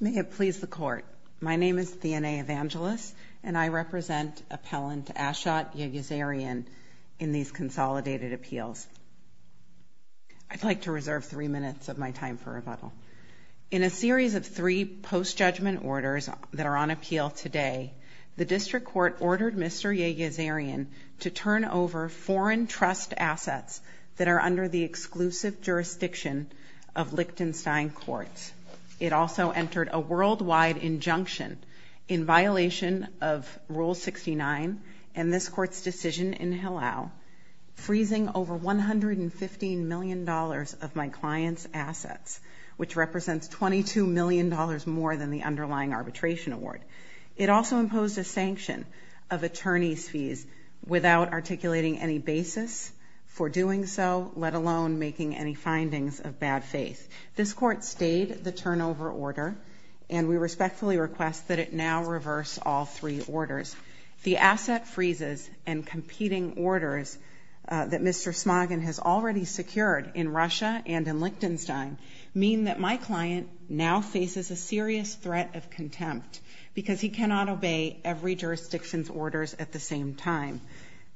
May it please the court. My name is Theena Evangelis and I represent appellant Ashot Yegiazaryan in these consolidated appeals. I'd like to reserve three minutes of my time for rebuttal. In a series of three post-judgment orders that are on appeal today, the District Court ordered Mr. Yegiazaryan to turn over foreign trust assets that are under the exclusive jurisdiction of Lichtenstein Court. It also entered a worldwide injunction in violation of Rule 69 and this court's decision in Hillel, freezing over $115 million of my client's assets, which represents $22 million more than the underlying arbitration award. It also imposed a sanction of attorney's fees without articulating any basis for doing so, let alone making any findings of bad faith. This court stayed the turnover order and we respectfully request that it now reverse all three orders. The asset freezes and competing orders that Mr. Smagin has already secured in Russia and in Lichtenstein mean that my client now faces a serious threat of contempt because he cannot obey every jurisdiction's orders at the same time.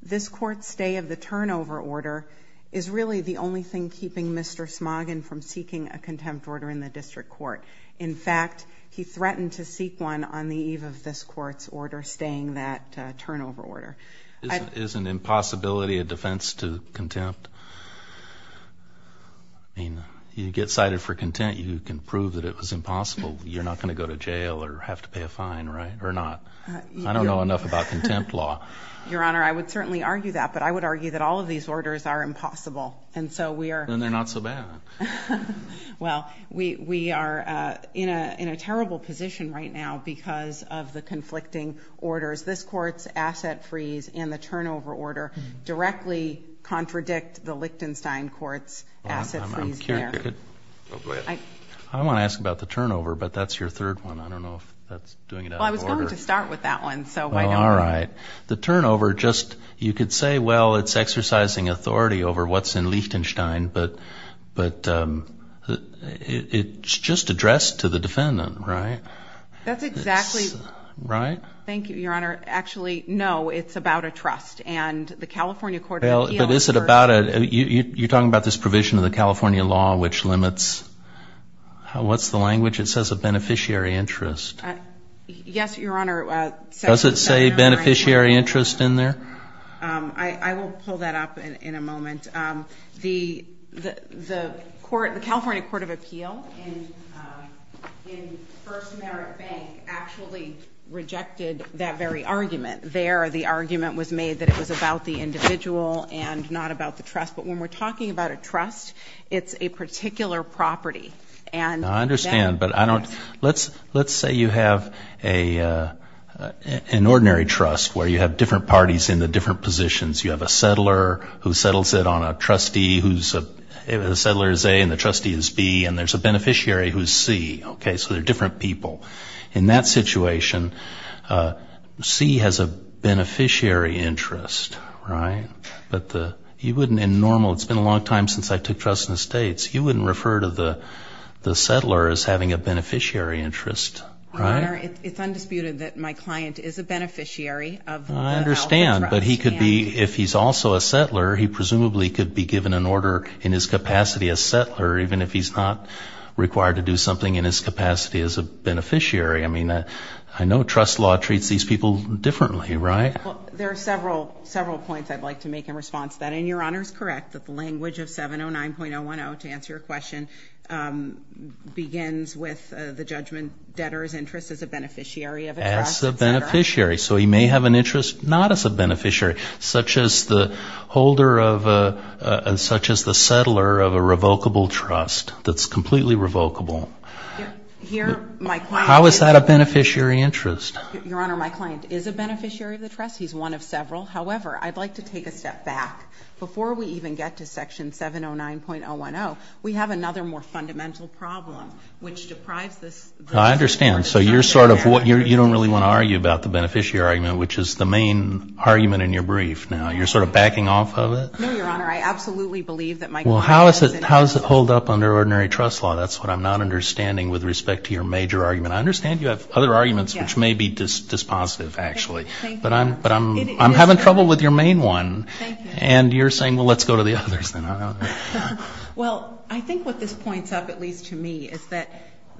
This court's stay of the Mr. Smagin from seeking a contempt order in the District Court. In fact, he threatened to seek one on the eve of this court's order staying that turnover order. Is an impossibility a defense to contempt? I mean, you get cited for contempt, you can prove that it was impossible. You're not going to go to jail or have to pay a fine, right? Or not. I don't know enough about contempt law. Your Honor, I would certainly argue that, but I would argue that all of these are not so bad. Well, we are in a terrible position right now because of the conflicting orders. This court's asset freeze and the turnover order directly contradict the Lichtenstein court's asset freeze there. I want to ask about the turnover, but that's your third one. I don't know if that's doing it out of order. Well, I was going to start with that one, so why don't we? All right. The turnover just, you could say, well, it's exercising authority over what's in Lichtenstein, but it's just addressed to the defendant, right? That's exactly right. Thank you, Your Honor. Actually, no, it's about a trust and the California court. Well, is it about it? You're talking about this provision of the California law, which limits, what's the language? It says a beneficiary interest. Yes, Your Honor. Does it say beneficiary interest in there? I will pull that up in a moment. The California Court of Appeal in First Merit Bank actually rejected that very argument. There, the argument was made that it was about the individual and not about the trust, but when we're talking about a trust, it's a particular property. I understand, but let's say you have an ordinary trust where you have different parties in the different positions. You have a settler who settles it on a trustee who's, the settler is A and the trustee is B, and there's a beneficiary who's C, okay? So they're different people. In that situation, C has a beneficiary interest, right? But you wouldn't in normal, it's been a long time since I took trust in the states, you wouldn't refer to the settler as having a beneficiary interest. Your Honor, it's undisputed that my client is a beneficiary. I understand, but he could be, if he's also a settler, he presumably could be given an order in his capacity as settler, even if he's not required to do something in his capacity as a beneficiary. I mean, I know trust law treats these people differently, right? There are several, several points I'd like to make in response to that, and Your Honor's correct that the language of 709.010, to interest as a beneficiary of a trust, et cetera. As a beneficiary, so he may have an interest not as a beneficiary, such as the holder of a, such as the settler of a revocable trust that's completely revocable. How is that a beneficiary interest? Your Honor, my client is a beneficiary of the trust. He's one of several. However, I'd like to take a step back. Before we even get to section 709.010, we have another more fundamental problem, which deprives this. I understand. So you're sort of, you don't really want to argue about the beneficiary argument, which is the main argument in your brief. Now, you're sort of backing off of it? No, Your Honor. I absolutely believe that my client doesn't. Well, how does it hold up under ordinary trust law? That's what I'm not understanding with respect to your major argument. I understand you have other arguments, which may be dispositive, actually. But I'm having trouble with your main one, and you're saying, well, let's go to the others, then. Well, I think what this points up, at least to me, is that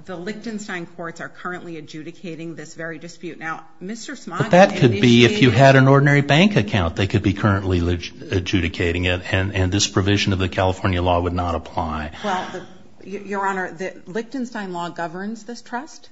the Lichtenstein courts are currently adjudicating this very dispute. Now, Mr. Smoggin... But that could be, if you had an ordinary bank account, they could be currently adjudicating it, and this provision of the California law would not apply. Well, Your Honor, the Lichtenstein law governs this trust,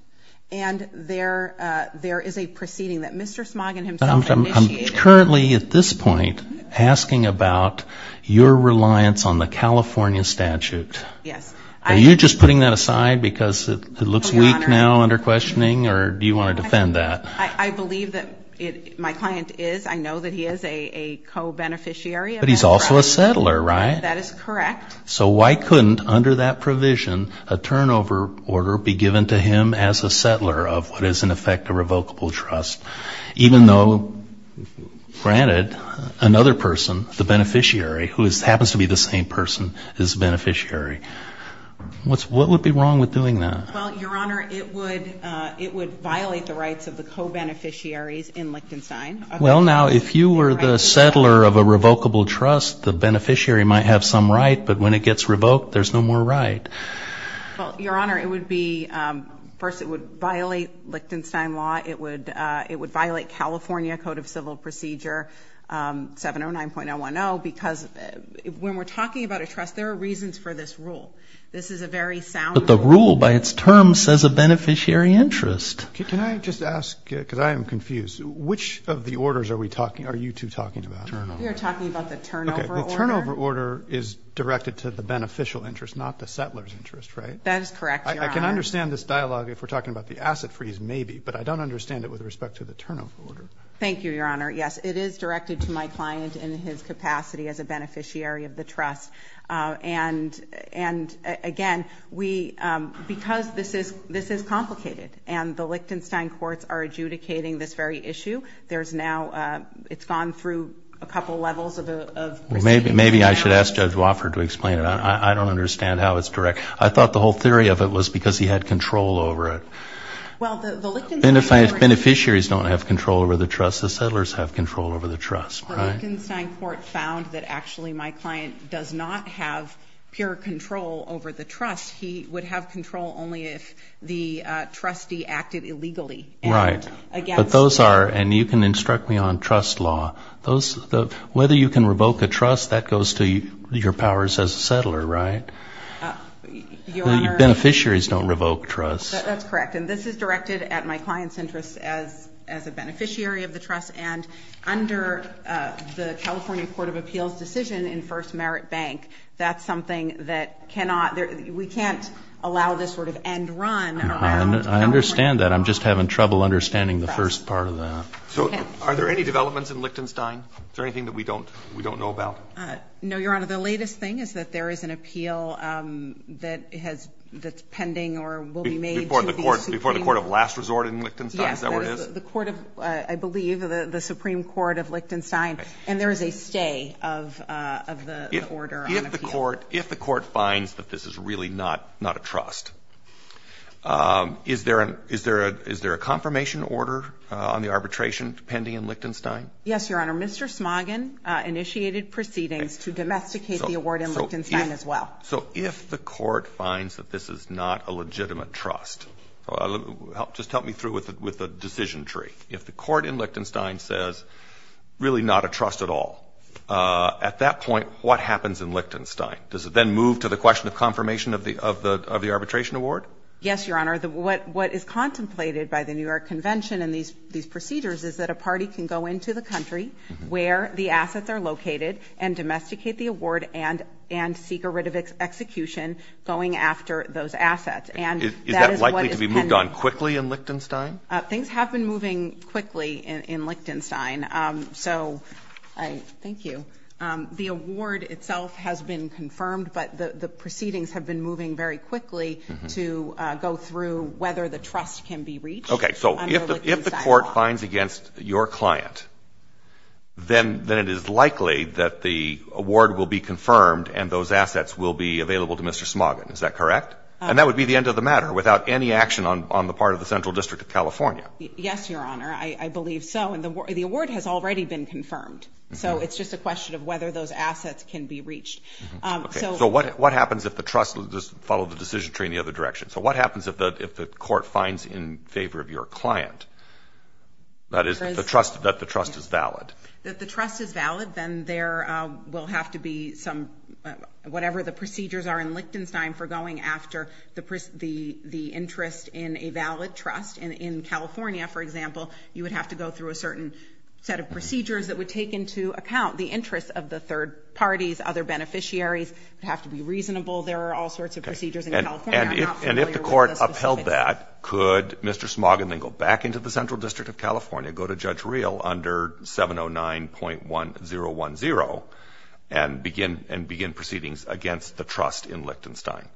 and there is a proceeding that Mr. Smoggin himself initiated. I'm currently, at this point, asking about your reliance on the California statute. Yes. Are you just putting that aside because it looks weak now under questioning, or do you want to defend that? I believe that my client is. I know that he is a co-beneficiary. But he's also a settler, right? That is correct. So why couldn't, under that provision, a turnover order be given to him as a settler of what is in effect a revocable trust, even though, granted, another person, the beneficiary, who happens to be the same person as the beneficiary? What would be wrong with doing that? Well, Your Honor, it would violate the rights of the co-beneficiaries in Lichtenstein. Well, now, if you were the settler of a revocable trust, the beneficiary might have some right, but when it gets revoked, there's no more right. Well, Your Honor, it would be... First, it would violate Lichtenstein law. It would violate California Code of Civil Procedure 709.010, because when we're talking about a trust, there are reasons for this rule. This is a very sound rule. But the rule, by its term, says a beneficiary interest. Can I just ask, because I am confused, which of the orders are you two talking about? Turnover. We are talking about the turnover order. Okay, the turnover order is directed to the beneficial interest, not the settler's interest, right? That is correct, Your Honor. I can understand this dialogue, if we're talking about the asset freeze, maybe, but I don't understand it with respect to the turnover order. Thank you, Your Honor. Yes, it is directed to my client in his capacity as a beneficiary. And again, because this is complicated and the Lichtenstein courts are adjudicating this very issue, there's now... It's gone through a couple of levels of... Maybe I should ask Judge Wofford to explain it. I don't understand how it's direct. I thought the whole theory of it was because he had control over it. Well, the Lichtenstein... Beneficiaries don't have control over the trust. The settlers have control over the trust, right? The Lichtenstein court found that actually my client does not have pure control over the trust. He would have control only if the trustee acted illegally. Right, but those are... And you can instruct me on trust law. Whether you can revoke a trust, that goes to your powers as a settler, right? Your Honor... Beneficiaries don't revoke trust. That's correct. And this is directed at my client's interest as a beneficiary of the trust. And under the California Court of Appeals decision in First Merit Bank, that's something that cannot... We can't allow this sort of end run... I understand that. I'm just having trouble understanding the first part of that. So are there any developments in Lichtenstein? Is there anything that we don't know about? No, Your Honor. The latest thing is that there is an appeal that's pending or will be made... Before the court of last resort in Lichtenstein, is that where it is? Yes. The court of, I believe, the Supreme Court of Lichtenstein, and there is a stay of the order on appeal. If the court finds that this is really not a trust, is there a confirmation order on the arbitration pending in Lichtenstein? Yes, Your Honor. Mr. Smoggin initiated proceedings to domesticate the award in Lichtenstein as well. So if the court finds that this is not a legitimate trust... Just help me through with the decision tree. If the court in Lichtenstein says, really not a trust at all, at that point, what happens in Lichtenstein? Does it then move to the question of confirmation of the arbitration award? Yes, Your Honor. What is contemplated by the New York Convention and these procedures is that a party can go into the country where the assets are located and domesticate the award and seek a court of execution going after those assets. Is that likely to be moved on quickly in Lichtenstein? Things have been moving quickly in Lichtenstein. Thank you. The award itself has been confirmed, but the proceedings have been moving very quickly to go through whether the trust can be reached. Okay. So if the court finds against your client, then it is likely that the award will be confirmed and those assets will be available to Mr. Smoggin. Is that correct? And that would be the end of the matter without any action on the part of the Central District of California. Yes, Your Honor. I believe so. And the award has already been confirmed. So it's just a question of whether those assets can be reached. So what happens if the trust... Just follow the decision tree in the other direction. So what happens if the court finds in favor of your client, that is, that the trust is valid? If the trust is valid, then there will have to be some, whatever the procedures are in Lichtenstein for going after the interest in a valid trust. In California, for example, you would have to go through a certain set of procedures that would take into account the interests of the third parties, other beneficiaries. It would have to be reasonable. There are all sorts of procedures in California. And if the court upheld that, could Mr. Smoggin then go back into the Central District of California, go to Judge Real under 709.1010 and begin proceedings against the trust in Lichtenstein?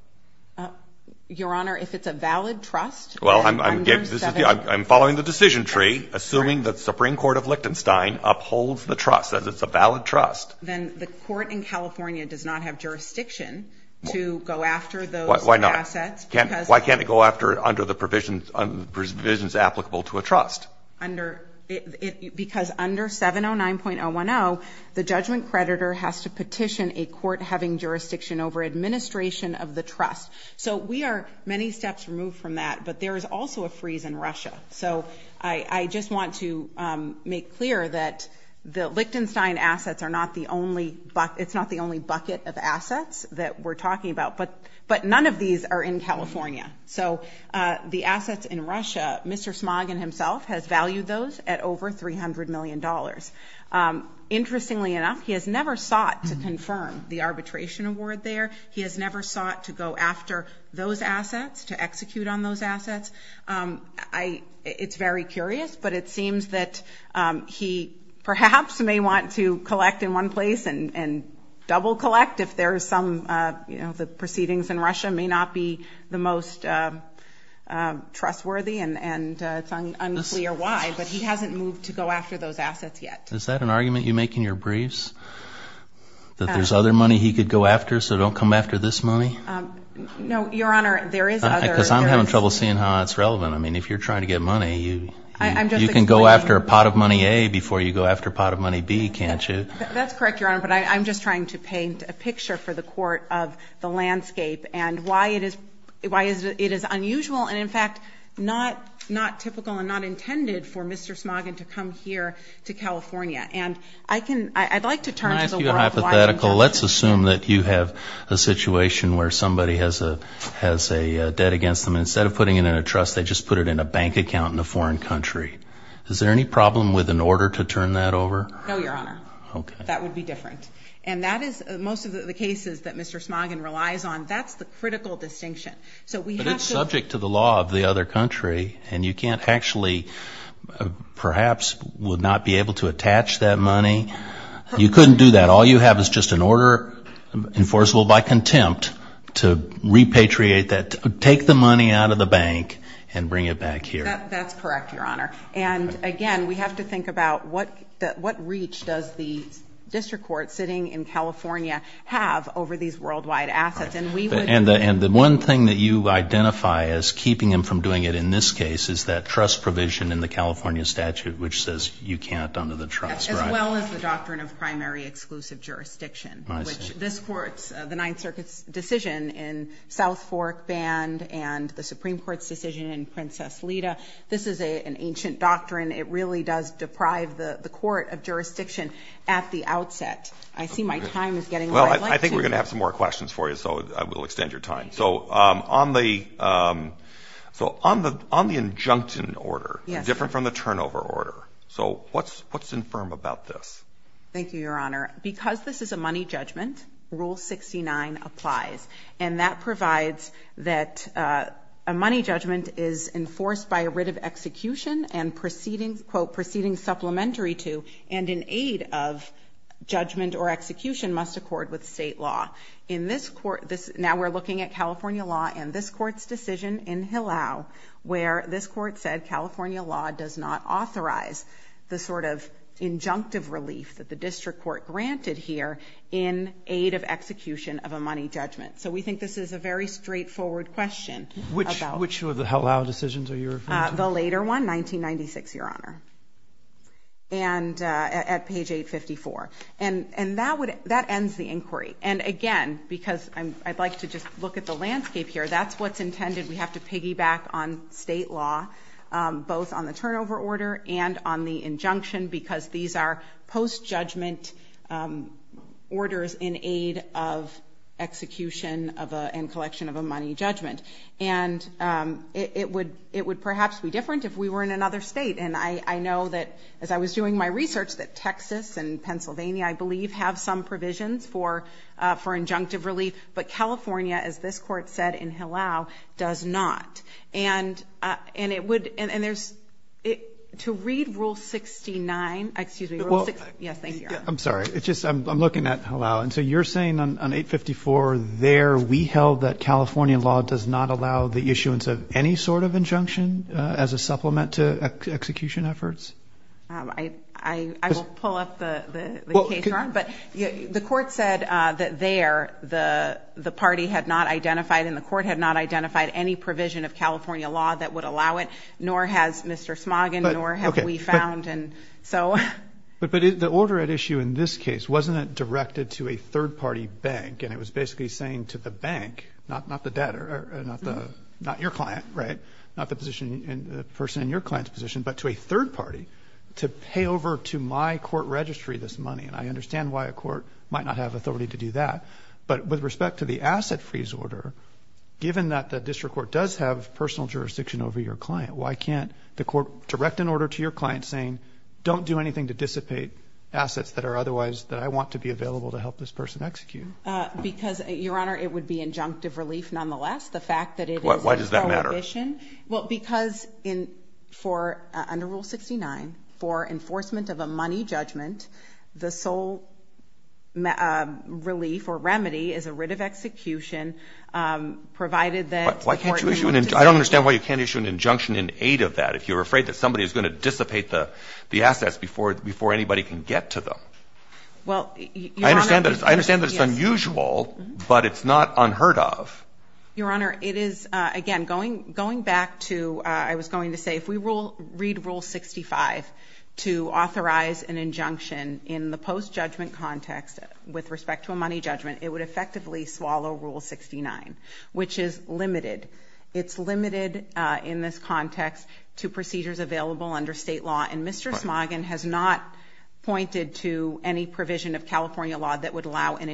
Your Honor, if it's a valid trust... Well, I'm following the decision tree, assuming the Supreme Court of Lichtenstein upholds the trust as it's a valid trust. Then the court in California does not have jurisdiction to go after those assets. Why not? Why can't it go after under the provisions applicable to a trust? Because under 709.010, the judgment creditor has to petition a court having jurisdiction over administration of the trust. So we are many steps removed from that, but there is also a freeze in Russia. So I just want to make clear that the Lichtenstein assets are not the only... It's not the only bucket of assets that we're talking about, but none of these are in California. So the assets in Russia, Mr. Smoggin himself has valued those at over $300 million. Interestingly enough, he has never sought to confirm the arbitration award there. He has never sought to go after those assets, to execute on those assets. It's very curious, but it seems that he perhaps may want to collect in one place and double collect if there's some... The proceedings in Russia may not be the most trustworthy and it's unclear why, but he hasn't moved to go after those assets yet. Is that an argument you make in your briefs? That there's other money he could go after, so don't come after this money? No, Your Honor, there is other... Because I'm having trouble seeing how that's relevant. I mean, if you're trying to get money, you can go after a pot of money A before you go after a pot of money B, can't you? That's correct, Your Honor, but I'm just trying to see why it is unusual and, in fact, not typical and not intended for Mr. Smoggin to come here to California. And I'd like to turn to the world... Can I ask you a hypothetical? Let's assume that you have a situation where somebody has a debt against them, and instead of putting it in a trust, they just put it in a bank account in a foreign country. Is there any problem with an order to turn that over? No, Your Honor. Okay. That would be different. And that is... Most of the cases that Mr. Smoggin relies on, that's the critical distinction. So we have to... But it's subject to the law of the other country, and you can't actually, perhaps, would not be able to attach that money. You couldn't do that. All you have is just an order enforceable by contempt to repatriate that, take the money out of the bank and bring it back here. That's correct, Your Honor. And again, we have to think about what reach does the district court sitting in California have over these worldwide assets? And we would... And the one thing that you identify as keeping him from doing it in this case is that trust provision in the California statute, which says you can't under the trust, right? As well as the doctrine of primary exclusive jurisdiction, which this court's, the Ninth Circuit's decision in South Fork banned, and the Supreme Court's decision in Princess Lita. This is an ancient doctrine. It really does deprive the court of jurisdiction at the outset. I see my time is getting... Well, I think we're gonna have some more questions for you, so I will extend your time. So on the... So on the injuncted order, different from the turnover order. So what's infirm about this? Thank you, Your Honor. Because this is a money judgment, Rule 69 applies, and that provides that a money judgment is enforced by a writ of execution and proceeding, supplementary to, and in aid of judgment or execution must accord with state law. In this court, this... Now we're looking at California law and this court's decision in Hillel, where this court said California law does not authorize the sort of injunctive relief that the district court granted here in aid of execution of a money judgment. So we think this is a very straightforward question about... Which of the Hillel decisions are you referring to? The later one, 1996, Your Honor. And at page 854. And that would... That ends the inquiry. And again, because I'd like to just look at the landscape here, that's what's intended. We have to piggyback on state law, both on the turnover order and on the injunction, because these are post judgment orders in aid of execution of a... And collection of a money judgment. And it would perhaps be different if we were in another state and I know that, as I was doing my research, that Texas and Pennsylvania, I believe, have some provisions for injunctive relief. But California, as this court said in Hillel, does not. And it would... And there's... To read rule 69... Excuse me. Yes, thank you, Your Honor. I'm sorry. It's just I'm looking at Hillel. And so you're saying on 854 there, we held that California law does not allow the issuance of any sort of injunction as a supplement to execution efforts? I will pull up the case, Your Honor. But the court said that there, the party had not identified and the court had not identified any provision of California law that would allow it, nor has Mr. Smoggin, nor have we found. And so... But the order at issue in this case, wasn't it directed to a third party bank? And it was basically saying to the bank, not the debtor, not your client, right? Not the person in your client's position, but to a third party to pay over to my court registry this money. And I understand why a court might not have authority to do that. But with respect to the asset freeze order, given that the district court does have personal jurisdiction over your client, why can't the court direct an order to your client saying, don't do anything to dissipate assets that are otherwise... That I want to be available to help this person execute? Because, Your Honor, it would be injunctive relief nonetheless. The fact that it is... Why does that matter? Prohibition. Well, because for under Rule 69, for enforcement of a money judgment, the sole relief or remedy is a writ of execution provided that... Why can't you issue an... I don't understand why you can't issue an injunction in aid of that, if you're afraid that somebody is gonna dissipate the assets before anybody can get to them. Well, Your Honor... I understand that it's unusual, but it's not unheard of. Your Honor, it is... Again, going back to... I was going to say, if we read Rule 65 to authorize an injunction in the post judgment context with respect to a money judgment, it would effectively swallow Rule 69, which is limited. It's limited in this context to procedures available under state law, and Mr. Smoggin has not pointed to any provision of California law that would allow an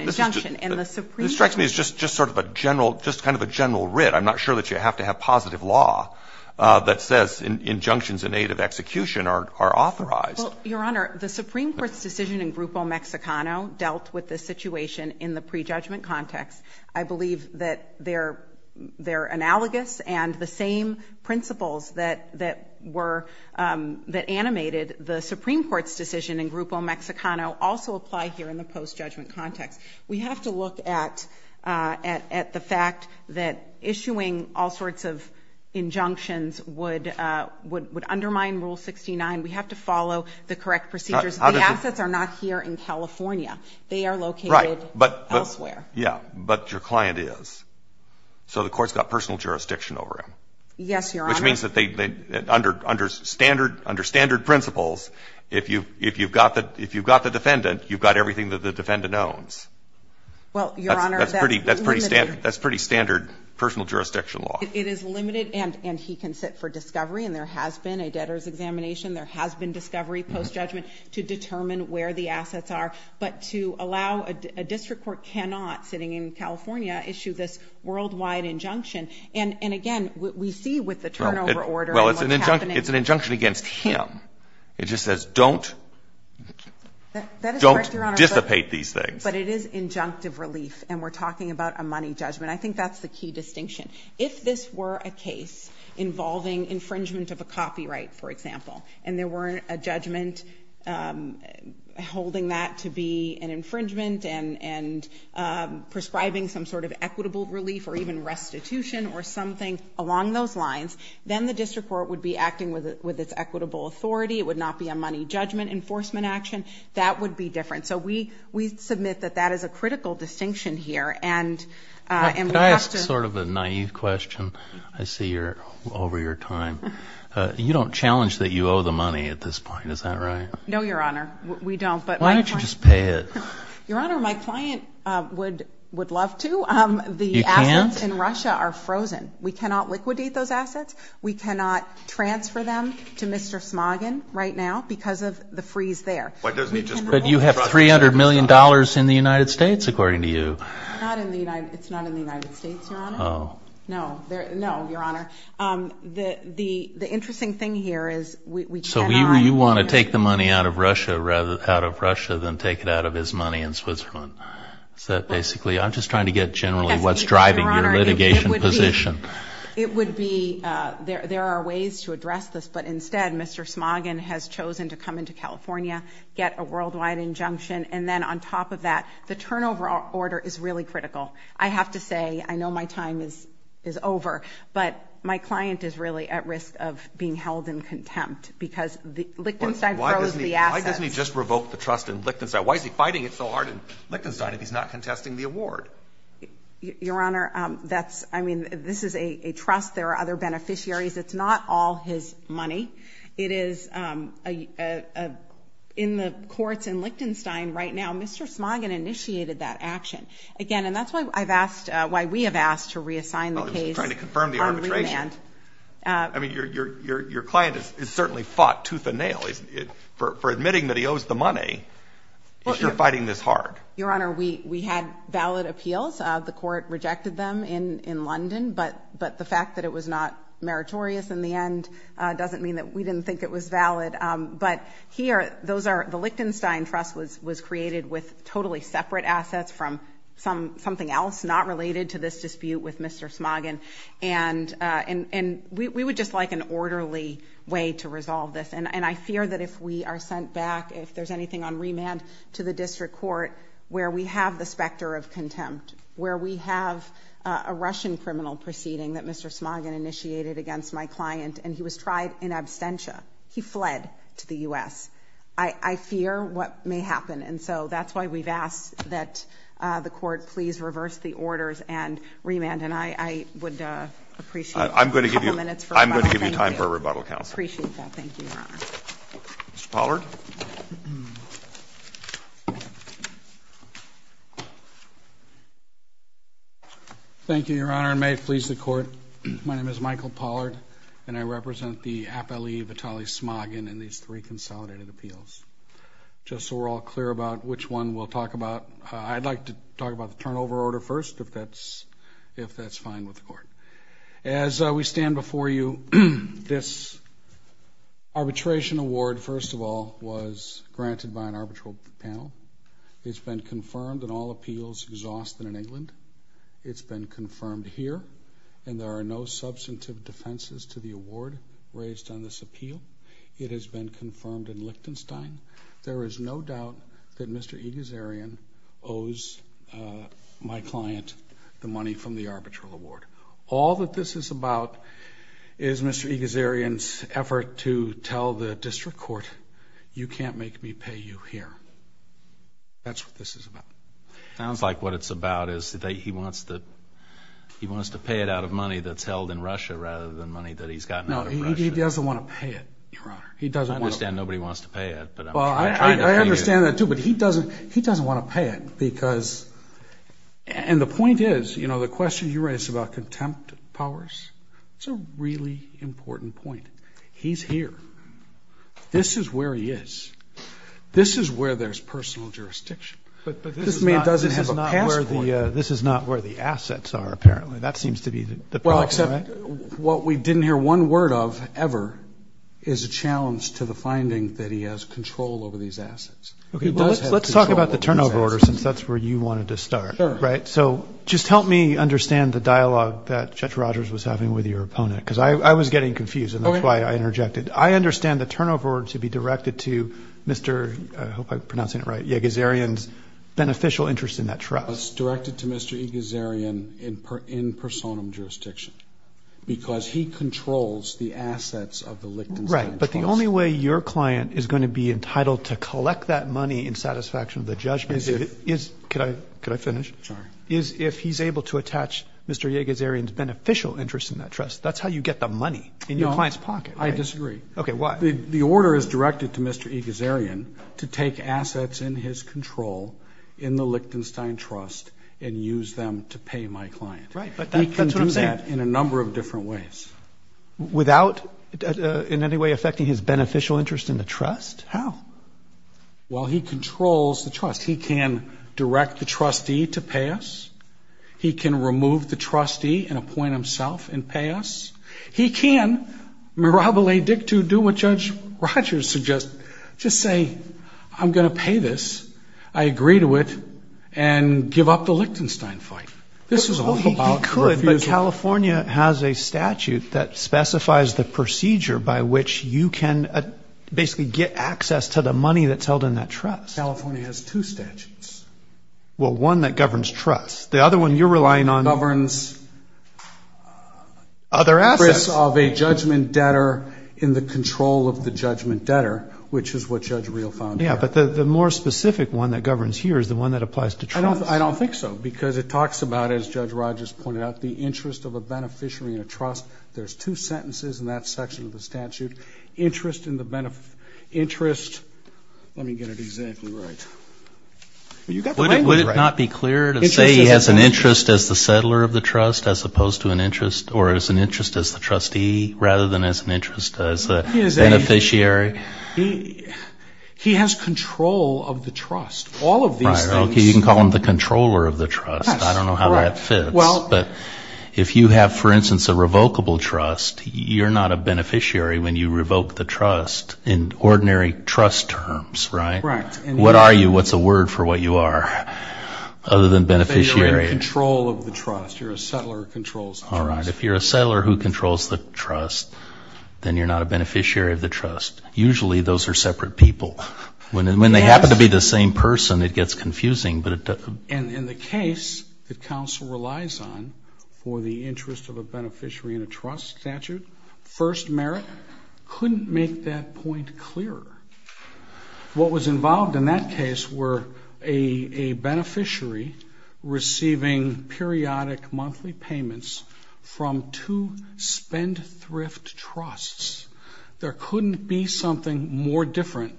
injunction. And the Supreme... This strikes me as just sort of a general... Just kind of a general writ. I'm not sure that you have to have positive law that says injunctions in aid of execution are authorized. Well, Your Honor, the Supreme Court's decision in Grupo Mexicano dealt with this situation in the pre judgment context. I believe that they're analogous and the same principles that were... That animated the Supreme Court's decision in Grupo Mexicano also apply here in the post judgment context. We have to look at the fact that issuing all sorts of injunctions would undermine Rule 69. We have to follow the correct procedures. The assets are not here in California. They are located elsewhere. Yeah, but your client is. So the court's got personal jurisdiction over him. Yes, Your Honor. Which means that under standard principles, if you've got the defendant, you've got everything that the defendant owns. Well, Your Honor, that's pretty standard personal jurisdiction law. It is limited and he can sit for discovery, and there has been a debtor's examination. There has been discovery post judgment to determine where the assets are, but to allow a district court cannot, sitting in California, issue this worldwide injunction. And again, what we see with the turnover order... Well, it's an injunction against him. It just says don't dissipate these things. But it is injunctive relief, and we're talking about a money judgment. I think that's the key distinction. If this were a case involving infringement of a copyright, for example, and there were a judgment holding that to be an infringement and prescribing some sort of equitable relief or even restitution or something along those lines, then the district court would be acting with its equitable authority. It would not be a money judgment enforcement action. That would be different. So we submit that that is a critical distinction here. And we have to... Can I ask sort of a naive question? I see you're over your time. You don't challenge that you know, Your Honor. We don't, but... Why don't you just pay it? Your Honor, my client would love to. You can't? The assets in Russia are frozen. We cannot liquidate those assets. We cannot transfer them to Mr. Smogin right now because of the freeze there. But you have $300 million in the United States, according to you. It's not in the United States, Your Honor. Oh. No, Your Honor. The interesting thing here is we cannot... So you want to take the money out of Russia rather out of Russia than take it out of his money in Switzerland. So basically, I'm just trying to get generally what's driving your litigation position. It would be... There are ways to address this, but instead, Mr. Smogin has chosen to come into California, get a worldwide injunction. And then on top of that, the turnover order is really critical. I have to say, I know my time is over, but my client is really at risk of being held in contempt because Lichtenstein froze the assets. Why doesn't he just revoke the trust in Lichtenstein? Why is he fighting it so hard in Lichtenstein if he's not contesting the award? Your Honor, that's... I mean, this is a trust. There are other beneficiaries. It's not all his money. It is... In the courts in Lichtenstein right now, Mr. Smogin initiated that action. Again, and that's why I've asked... Why we have asked to reassign the firm to arbitration. I mean, your client is certainly fought tooth and nail for admitting that he owes the money. Is your fighting this hard? Your Honor, we had valid appeals. The court rejected them in London, but the fact that it was not meritorious in the end doesn't mean that we didn't think it was valid. But here, those are... The Lichtenstein trust was created with totally separate assets from something else not related to this dispute with Mr. Smogin. And we would just like an orderly way to resolve this. And I fear that if we are sent back, if there's anything on remand to the district court where we have the specter of contempt, where we have a Russian criminal proceeding that Mr. Smogin initiated against my client, and he was tried in absentia. He fled to the US. I fear what may happen. And so that's why we've asked that the court please reverse the orders and remand. And I would appreciate a couple minutes for... I'm going to give you time for a rebuttal, counsel. I appreciate that. Thank you, Your Honor. Mr. Pollard? Thank you, Your Honor, and may it please the court. My name is Michael Pollard, and I represent the appellee Vitaly Smogin in these three consolidated appeals. Just so we're all clear about which one we'll talk about, I'd like to talk about the turnover order first, if that's fine with the court. As we stand before you, this arbitration award, first of all, was granted by an arbitral panel. It's been confirmed in all appeals exhausted in England. It's been confirmed here, and there are no substantive defenses to the award raised on this appeal. It has been confirmed in Lichtenstein. There is no doubt that Mr. Egazarian owes my client the money from the arbitral award. All that this is about is Mr. Egazarian's effort to tell the district court, you can't make me pay you here. That's what this is about. Sounds like what it's about is that he wants to pay it out of money that's held in Russia rather than that he's gotten out of Russia. No, he doesn't want to pay it, Your Honor. He doesn't want to. I understand nobody wants to pay it, but I'm trying to pay you. Well, I understand that too, but he doesn't want to pay it because... And the point is, the question you raised about contempt powers, it's a really important point. He's here. This is where he is. This is where there's personal jurisdiction. But this man doesn't have a passport. But this is not where the assets are, apparently. That seems to be the problem, right? Well, except what we didn't hear one word of ever is a challenge to the finding that he has control over these assets. Okay, let's talk about the turnover order since that's where you wanted to start, right? So just help me understand the dialogue that Judge Rogers was having with your opponent because I was getting confused and that's why I interjected. I understand the turnover order to be directed to Mr. I hope I'm pronouncing it right, Egazarian's beneficial interest in that trust. It's directed to Mr. Egazarian in personum jurisdiction because he controls the assets of the Lichtenstein Trust. Right, but the only way your client is going to be entitled to collect that money in satisfaction of the judgment is... Could I finish? Sorry. Is if he's able to attach Mr. Egazarian's beneficial interest in that trust. That's how you get the money in your client's pocket. I disagree. Okay, why? The order is directed to Mr. Egazarian to take assets in his control in the Lichtenstein Trust and use them to pay my client. Right, but that's what I'm saying. He can do that in a number of different ways. Without in any way affecting his beneficial interest in the trust? How? Well, he controls the trust. He can direct the trustee to pay us. He can remove the trustee and appoint himself and pay us. He can, mirabile dictu, do what Judge Rogers suggests. Just say I'm going to pay this. I agree to it and give up the Lichtenstein fight. This is all about the refusal. He could, but California has a statute that specifies the procedure by which you can basically get access to the money that's held in that trust. California has two statutes. Well, one that governs trust. The other one you're relying on... Governs... Other assets. ...of a judgment debtor in the control of the judgment debtor, which is what Judge Reel found here. Yeah, but the more specific one that governs here is the one that applies to trust. I don't think so, because it talks about, as Judge Rogers pointed out, the interest of a beneficiary in a trust. There's two sentences in that section of the statute. Interest in the benefit... Interest... Let me get it exactly right. You got the language right. Would it not be clear to say he has an interest as the settler of the trust, as opposed to an interest, or as an interest as the trustee, rather than as an interest as a beneficiary? He has control of the trust. All of these things... You can call him the controller of the trust. I don't know how that fits. But if you have, for instance, a revocable trust, you're not a beneficiary when you revoke the trust in ordinary trust terms, right? Right. What are you? What's a word for what you are, other than beneficiary? You're in control of the trust. You're a settler who controls the trust. All right. If you're a settler who controls the trust, then you're not a beneficiary of the trust. Usually those are separate people. When they happen to be the same person, it gets confusing. And the case that counsel relies on for the interest of a beneficiary in a trust statute, first merit, couldn't make that point clearer. What was involved in that case were a beneficiary receiving periodic monthly payments from two spendthrift trusts. There couldn't be something more different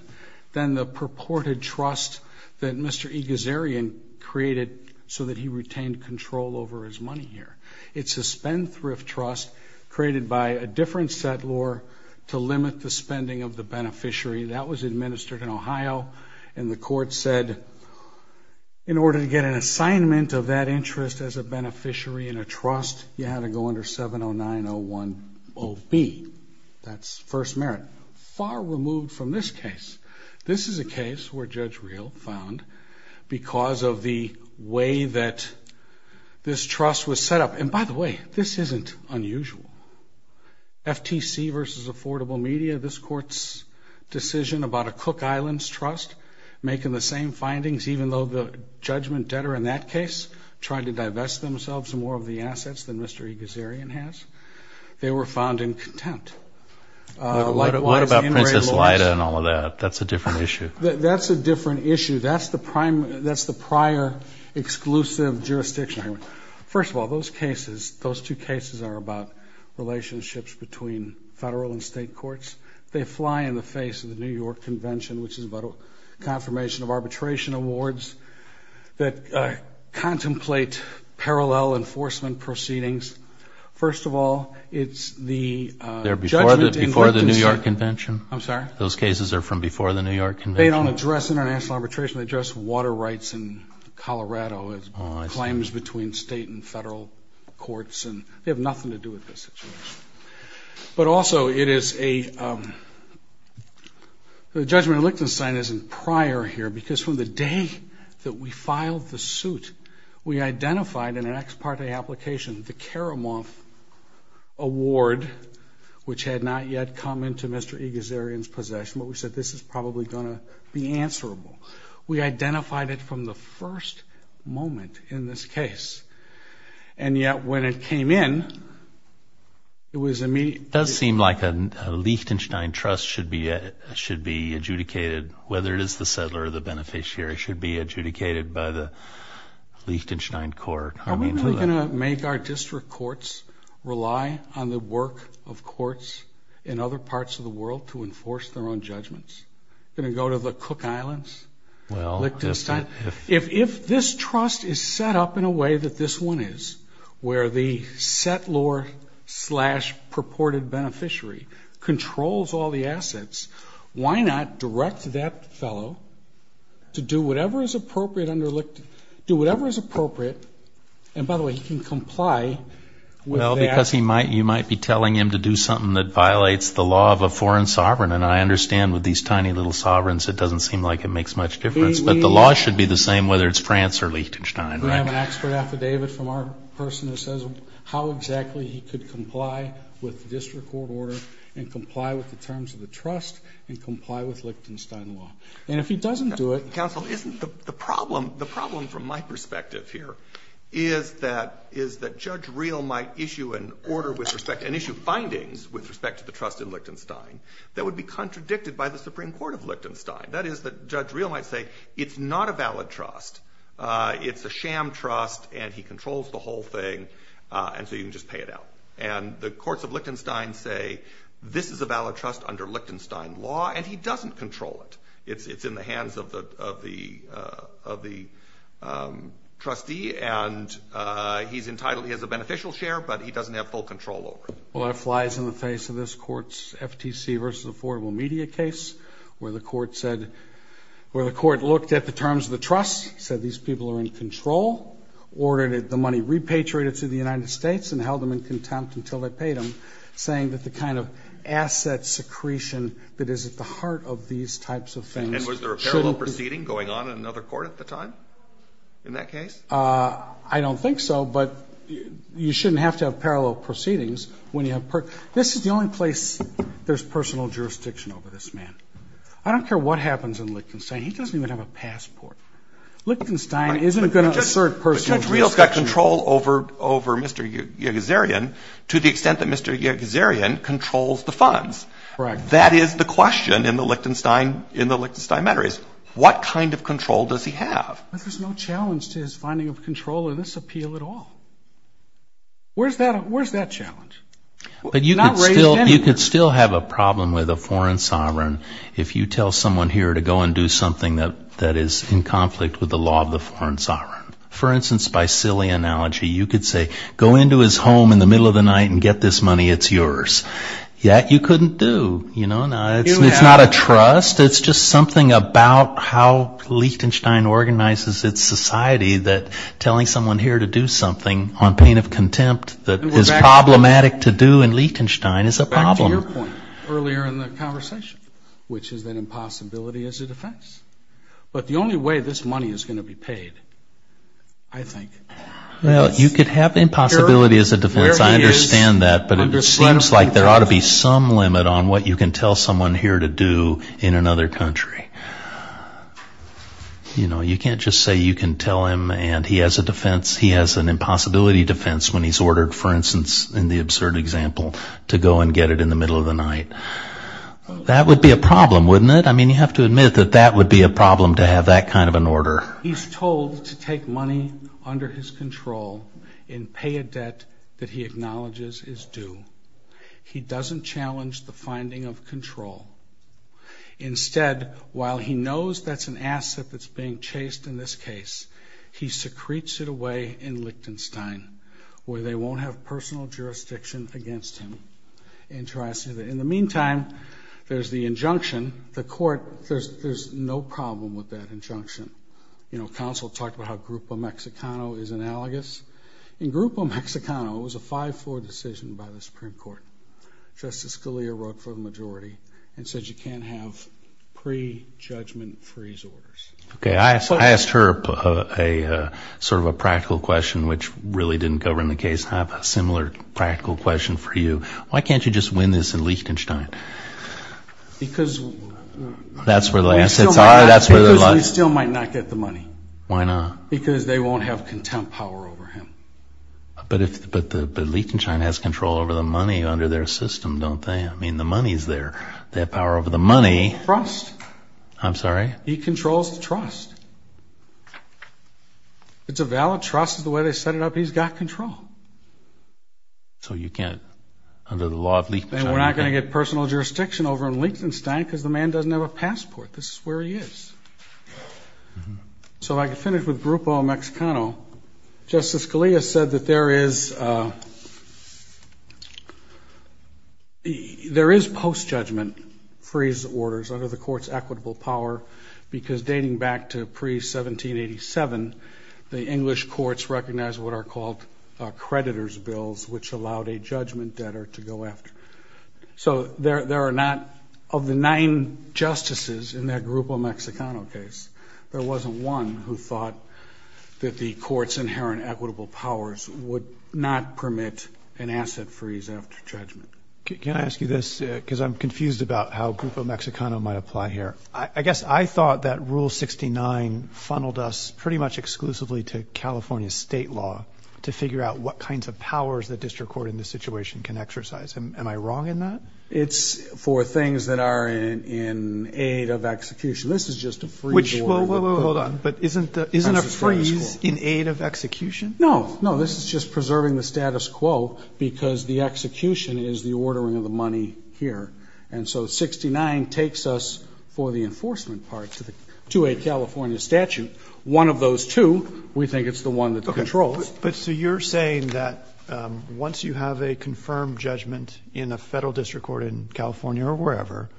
than the purported trust that Mr. Egazarian created so that he retained control over his money here. It's a spendthrift trust created by a different settler to limit the spending of the beneficiary. That was administered in Ohio. And the court said, in order to get an assignment of that interest as a beneficiary in a trust, you had to go under 709-010B. That's first merit. Far removed from this case. This is a case where Judge Real found, because of the way that this trust was set up, and by the way, this isn't unusual. FTC versus Affordable Media, this court's decision about a Cook Islands trust making the same findings, even though the judgment debtor in that case tried to divest themselves of more of the assets than Mr. Egazarian has. They were found in contempt. What about Princess Lida and all of that? That's a different issue. That's a different issue. That's the prior exclusive jurisdiction. First of all, those cases, those two cases are about relationships between federal and state courts. They fly in the face of the New York Convention, which is about a confirmation of arbitration awards that contemplate parallel enforcement proceedings. First of all, it's the judgment in question. They're before the New York Convention? I'm sorry? Those cases are from before the New York Convention? They don't address international arbitration. They address water rights in Colorado as claims between state and federal courts, and they have nothing to do with this situation. But also it is a judgment in Liechtenstein isn't prior here because from the day that we filed the suit, we identified in an ex parte application the Karamoff Award, which had not yet come into Mr. Egazarian's possession, but we said this is probably going to be answerable. We identified it from the first moment in this case. And yet when it came in, it was immediate. It does seem like a Liechtenstein trust should be adjudicated, whether it is the settler or the beneficiary, should be adjudicated by the Liechtenstein court. Are we really going to make our district courts rely on the work of courts in other parts of the world to enforce their own judgments? Going to go to the Cook Islands, Liechtenstein? If this trust is set up in a way that this one is, where the settlor slash purported beneficiary controls all the assets, why not direct that fellow to do whatever is appropriate under Liechtenstein? Do whatever is appropriate. And by the way, he can comply with that. Well, because you might be telling him to do something that violates the law of a foreign sovereign, and I understand with these tiny little sovereigns it doesn't seem like it makes much difference. But the law should be the same whether it's France or Liechtenstein, right? We have an expert affidavit from our person that says how exactly he could comply with the district court order and comply with the terms of the trust and comply with Liechtenstein law. And if he doesn't do it... Counsel, isn't the problem, the problem from my perspective here, is that Judge Reel might issue an order with respect and issue findings with respect to the trust in Liechtenstein that would be contradicted by the Supreme Court of Liechtenstein. That is that Judge Reel might say it's not a valid trust. It's a sham trust, and he controls the whole thing, and so you can just pay it out. And the courts of Liechtenstein say this is a valid trust under Liechtenstein law, and he doesn't control it. It's in the hands of the trustee, and he's entitled, he has a beneficial share, but he doesn't have full control over it. Well, that flies in the face of this court's FTC versus affordable media case where the court said, where the court looked at the terms of the trust, said these people are in control, ordered the money repatriated to the United States and held them in contempt until they paid them, saying that the kind of asset secretion that is at the heart of these types of things... And was there a parallel proceeding going on in another court at the time in that case? I don't think so, but you shouldn't have to have parallel proceedings when you have... This is the only place there's personal jurisdiction over this man. I don't care what happens in Liechtenstein. He doesn't even have a passport. Liechtenstein isn't going to assert personal jurisdiction... Judge Rios got control over Mr. Yegizerian to the extent that Mr. Yegizerian controls the funds. That is the question in the Liechtenstein matter, is what kind of control does he have? But there's no challenge to his finding of control in this appeal at all. Where's that challenge? But you could still have a problem with a foreign sovereign if you tell someone here to go and do something that is in conflict with the law of the foreign sovereign. For instance, by silly analogy, you could say, go into his home in the middle of the night and get this money, it's yours. That you couldn't do. It's not a trust, it's just something about how Liechtenstein organizes its society that telling someone here to do something on pain of contempt that is problematic to do in Liechtenstein is a problem. Back to your point earlier in the conversation, which is that impossibility is a defense. But the only way this money is going to be paid, I think... Well, you could have impossibility as a defense, I understand that, but it seems like there ought to be some limit on what you can tell someone here to do in another country. You know, you can't just say you can tell him and he has a defense, he has an impossibility defense when he's ordered, for instance, in the absurd example, to go and get it in the middle of the night. That would be a problem, wouldn't it? I mean, you have to admit that that would be a problem to have that kind of an order. He's told to take money under his control and pay a debt that he acknowledges is due. He doesn't challenge the finding of control. Instead, while he knows that's an asset that's being chased in this case, he secretes it away in Liechtenstein where they won't have personal jurisdiction against him. In the meantime, there's the injunction. The court, there's no problem with that injunction. You know, counsel talked about how Grupo Mexicano is analogous. In Grupo Mexicano, it was a 5-4 decision by the Supreme Court. Justice Scalia wrote for the majority and said you can't have pre-judgment freeze orders. Okay. I asked her sort of a practical question, which really didn't govern the case. I have a similar practical question for you. Why can't you just win this in Liechtenstein? Because we still might not get the money. Why not? Because they won't have contempt power over him. But Liechtenstein has control over the money under their system, don't they? I mean, the money's there. They have power over the money. Trust. I'm sorry? He controls the trust. It's a valid trust is the way they set it up. He's got control. So you can't, under the law of Liechtenstein. And we're not going to get personal jurisdiction over him in Liechtenstein because the man doesn't have a passport. This is where he is. So I can finish with Grupo Mexicano. Justice Scalia said that there is post-judgment freeze orders under the court's equitable power because, dating back to pre-1787, the English courts recognized what are called creditors' bills, which allowed a judgment debtor to go after. So there are not, of the nine justices in that Grupo Mexicano case, there wasn't one who thought that the court's inherent equitable powers would not permit an asset freeze after judgment. Can I ask you this? Because I'm confused about how Grupo Mexicano might apply here. I guess I thought that Rule 69 funneled us pretty much exclusively to California state law to figure out what kinds of powers the district court in this situation can exercise. Am I wrong in that? It's for things that are in aid of execution. This is just a freeze order. Hold on. But isn't a freeze in aid of execution? No, no. This is just preserving the status quo because the execution is the ordering of the money here. And so 69 takes us for the enforcement part to a California statute. One of those two, we think it's the one that controls. But so you're saying that once you have a confirmed judgment in a federal district court in California or wherever,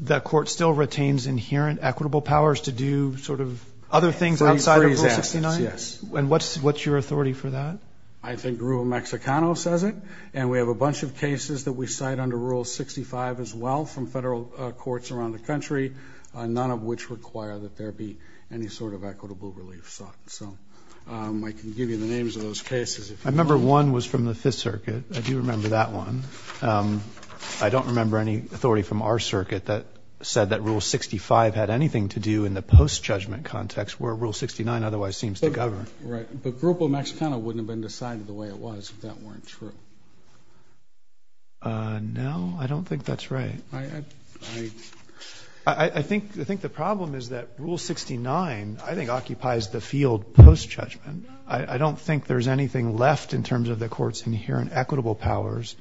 that court still retains inherent equitable powers to do sort of other things outside of Rule 69? Yes. And what's your authority for that? I think Grupo Mexicano says it, and we have a bunch of cases that we cite under Rule 65 as well from federal courts around the country, none of which require that there be any sort of equitable relief sought. So I can give you the names of those cases. I remember one was from the Fifth Circuit. I do remember that one. I don't remember any authority from our circuit that said that Rule 65 had anything to do in the post-judgment context where Rule 69 otherwise seems to govern. Right. But Grupo Mexicano wouldn't have been decided the way it was if that weren't true. No, I don't think that's right. I think the problem is that Rule 69, I think, occupies the field post-judgment. I don't think there's anything left in terms of the court's inherent equitable powers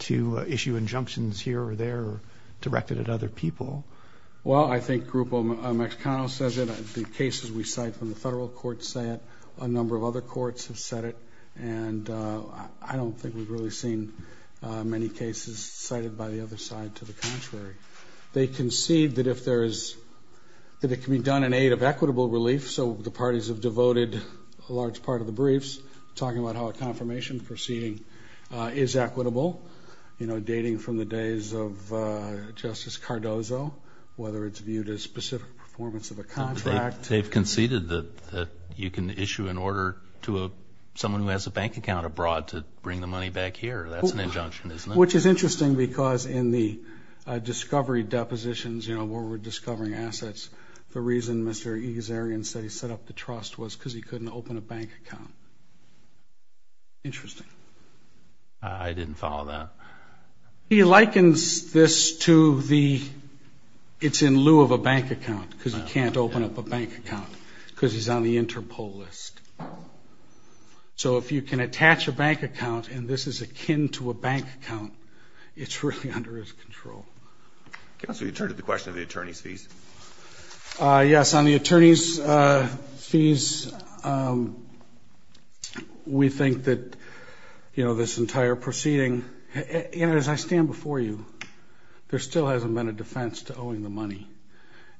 to issue injunctions here or there or direct it at other people. Well, I think Grupo Mexicano says it. The cases we cite from the federal courts say it. A number of other courts have said it, and I don't think we've really seen many cases cited by the other side to the contrary. They concede that it can be done in aid of equitable relief, so the parties have devoted a large part of the briefs talking about how a confirmation proceeding is equitable, dating from the days of Justice Cardozo, whether it's viewed as specific performance of a contract. They've conceded that you can issue an order to someone who has a bank account abroad to bring the money back here. That's an injunction, isn't it? Which is interesting because in the discovery depositions where we're discovering assets, the reason Mr. Egazarian said he set up the trust was because he couldn't open a bank account. Interesting. I didn't follow that. He likens this to the it's in lieu of a bank account because you can't open up a bank account because he's on the Interpol list. So if you can attach a bank account and this is akin to a bank account, it's really under his control. Counsel, you turned to the question of the attorney's fees. Yes, on the attorney's fees, we think that, you know, this entire proceeding, and as I stand before you, there still hasn't been a defense to owing the money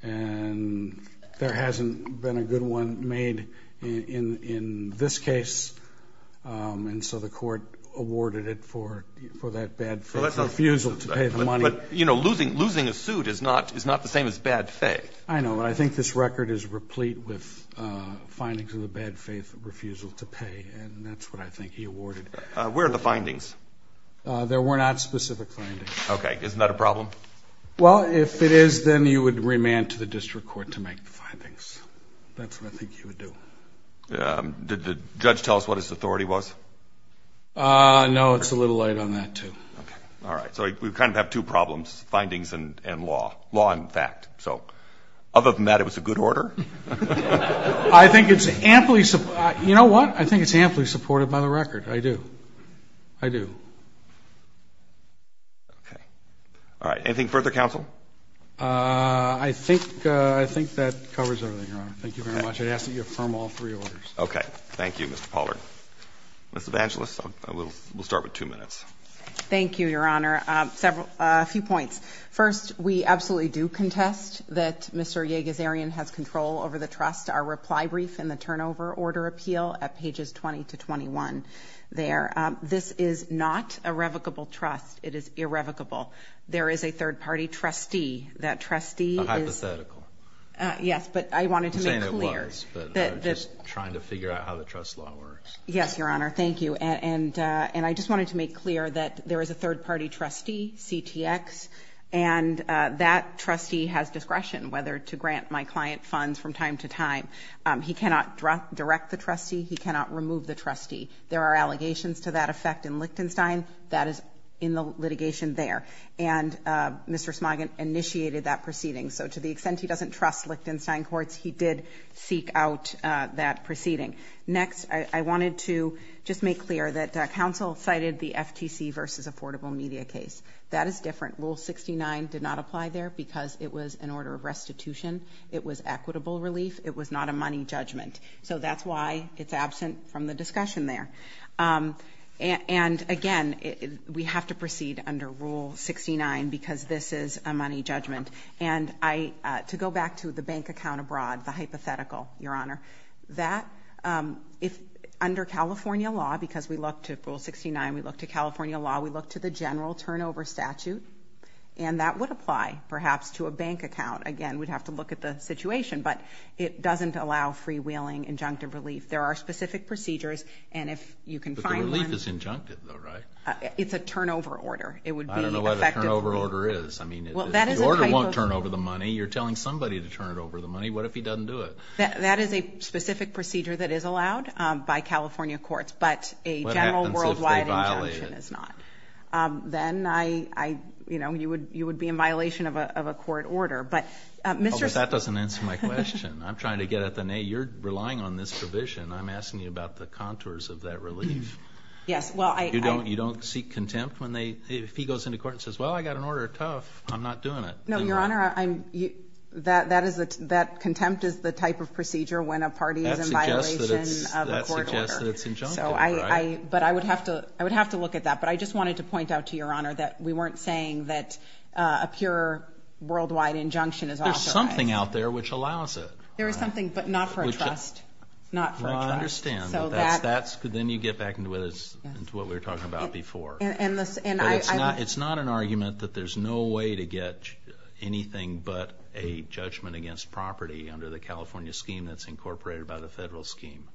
and there hasn't been a good one made in this case, and so the court awarded it for that bad refusal to pay the money. But, you know, losing a suit is not the same as bad faith. I know. I think this record is replete with findings of the bad faith refusal to pay, and that's what I think he awarded. Where are the findings? There were not specific findings. Okay. Isn't that a problem? Well, if it is, then you would remand to the district court to make the findings. That's what I think you would do. Did the judge tell us what his authority was? No, it's a little late on that, too. Okay. All right. So we kind of have two problems, findings and law. Law and fact. So other than that, it was a good order? I think it's amply supported. You know what? I think it's amply supported by the record. I do. I do. Okay. All right. Anything further, counsel? I think that covers everything, Your Honor. Thank you very much. I'd ask that you affirm all three orders. Okay. Thank you, Mr. Pollard. Ms. Evangelos, we'll start with two minutes. Thank you, Your Honor. A few points. First, we absolutely do contest that Mr. Yagazarian has control over the trust. Our reply brief in the turnover order appeal at pages 20 to 21 there. This is not a revocable trust. It is irrevocable. There is a third-party trustee. That trustee is – A hypothetical. Yes, but I wanted to make clear – I'm saying it was, but I'm just trying to figure out how the trust law works. Yes, Your Honor. Thank you. And I just wanted to make clear that there is a third-party trustee, CTX, and that trustee has discretion whether to grant my client funds from time to time. He cannot direct the trustee. He cannot remove the trustee. There are allegations to that effect in Lichtenstein. That is in the litigation there. And Mr. Smoggin initiated that proceeding. So to the extent he doesn't trust Lichtenstein courts, he did seek out that proceeding. Next, I wanted to just make clear that counsel cited the FTC v. Affordable Media case. That is different. Rule 69 did not apply there because it was an order of restitution. It was equitable relief. It was not a money judgment. So that's why it's absent from the discussion there. And, again, we have to proceed under Rule 69 because this is a money judgment. And to go back to the bank account abroad, the hypothetical, Your Honor, that if under California law, because we look to Rule 69, we look to California law, we look to the general turnover statute, and that would apply perhaps to a bank account. Again, we'd have to look at the situation. But it doesn't allow freewheeling injunctive relief. There are specific procedures, and if you can find one. But the relief is injunctive though, right? It's a turnover order. I don't know what a turnover order is. I mean, if the order won't turn over the money, you're telling somebody to turn it over the money. What if he doesn't do it? That is a specific procedure that is allowed by California courts. But a general worldwide injunction is not. What happens if they violate it? Then I, you know, you would be in violation of a court order. Oh, but that doesn't answer my question. I'm trying to get at the nay. You're relying on this provision. I'm asking you about the contours of that relief. Yes, well, I. You don't seek contempt when they, if he goes into court and says, Well, I got an order tough, I'm not doing it. No, Your Honor, that contempt is the type of procedure when a party is in violation of a court order. That suggests that it's injunctive, right? But I would have to look at that. But I just wanted to point out to Your Honor that we weren't saying that a pure worldwide injunction is authorized. There's something out there which allows it. There is something, but not for a trust. Not for a trust. Well, I understand. Then you get back into what we were talking about before. It's not an argument that there's no way to get anything but a judgment against property under the California scheme that's incorporated by the federal scheme.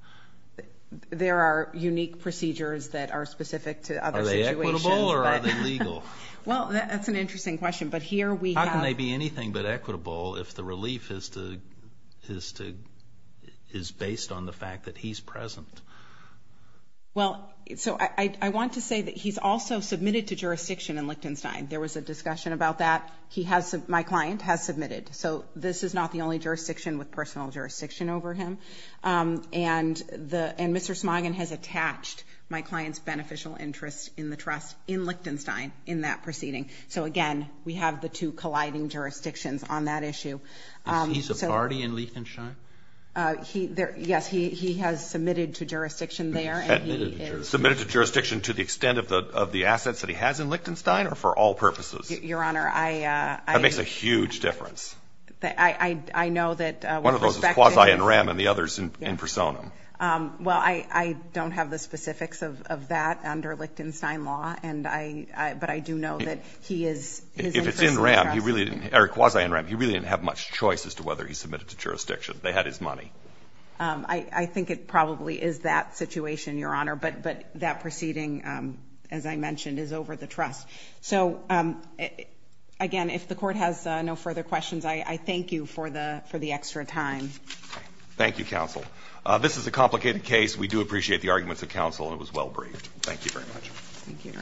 There are unique procedures that are specific to other situations. Are they equitable or are they legal? Well, that's an interesting question, but here we have. How can they be anything but equitable if the relief is based on the fact that he's present? Well, so I want to say that he's also submitted to jurisdiction in Lichtenstein. There was a discussion about that. My client has submitted. So this is not the only jurisdiction with personal jurisdiction over him. And Mr. Smoggin has attached my client's beneficial interest in the trust in Lichtenstein in that proceeding. So, again, we have the two colliding jurisdictions on that issue. He's a party in Lichtenstein? Yes, he has submitted to jurisdiction there. Submitted to jurisdiction to the extent of the assets that he has in Lichtenstein or for all purposes? Your Honor, I. That makes a huge difference. I know that. One of those is quasi-in rem and the other is in personam. Well, I don't have the specifics of that under Lichtenstein law, but I do know that he is. If it's quasi-in rem, he really didn't have much choice as to whether he submitted to jurisdiction. They had his money. I think it probably is that situation, Your Honor, but that proceeding, as I mentioned, is over the trust. So, again, if the court has no further questions, I thank you for the extra time. Thank you, counsel. This is a complicated case. We do appreciate the arguments of counsel, and it was well braved. Thank you very much. Thank you, Your Honor.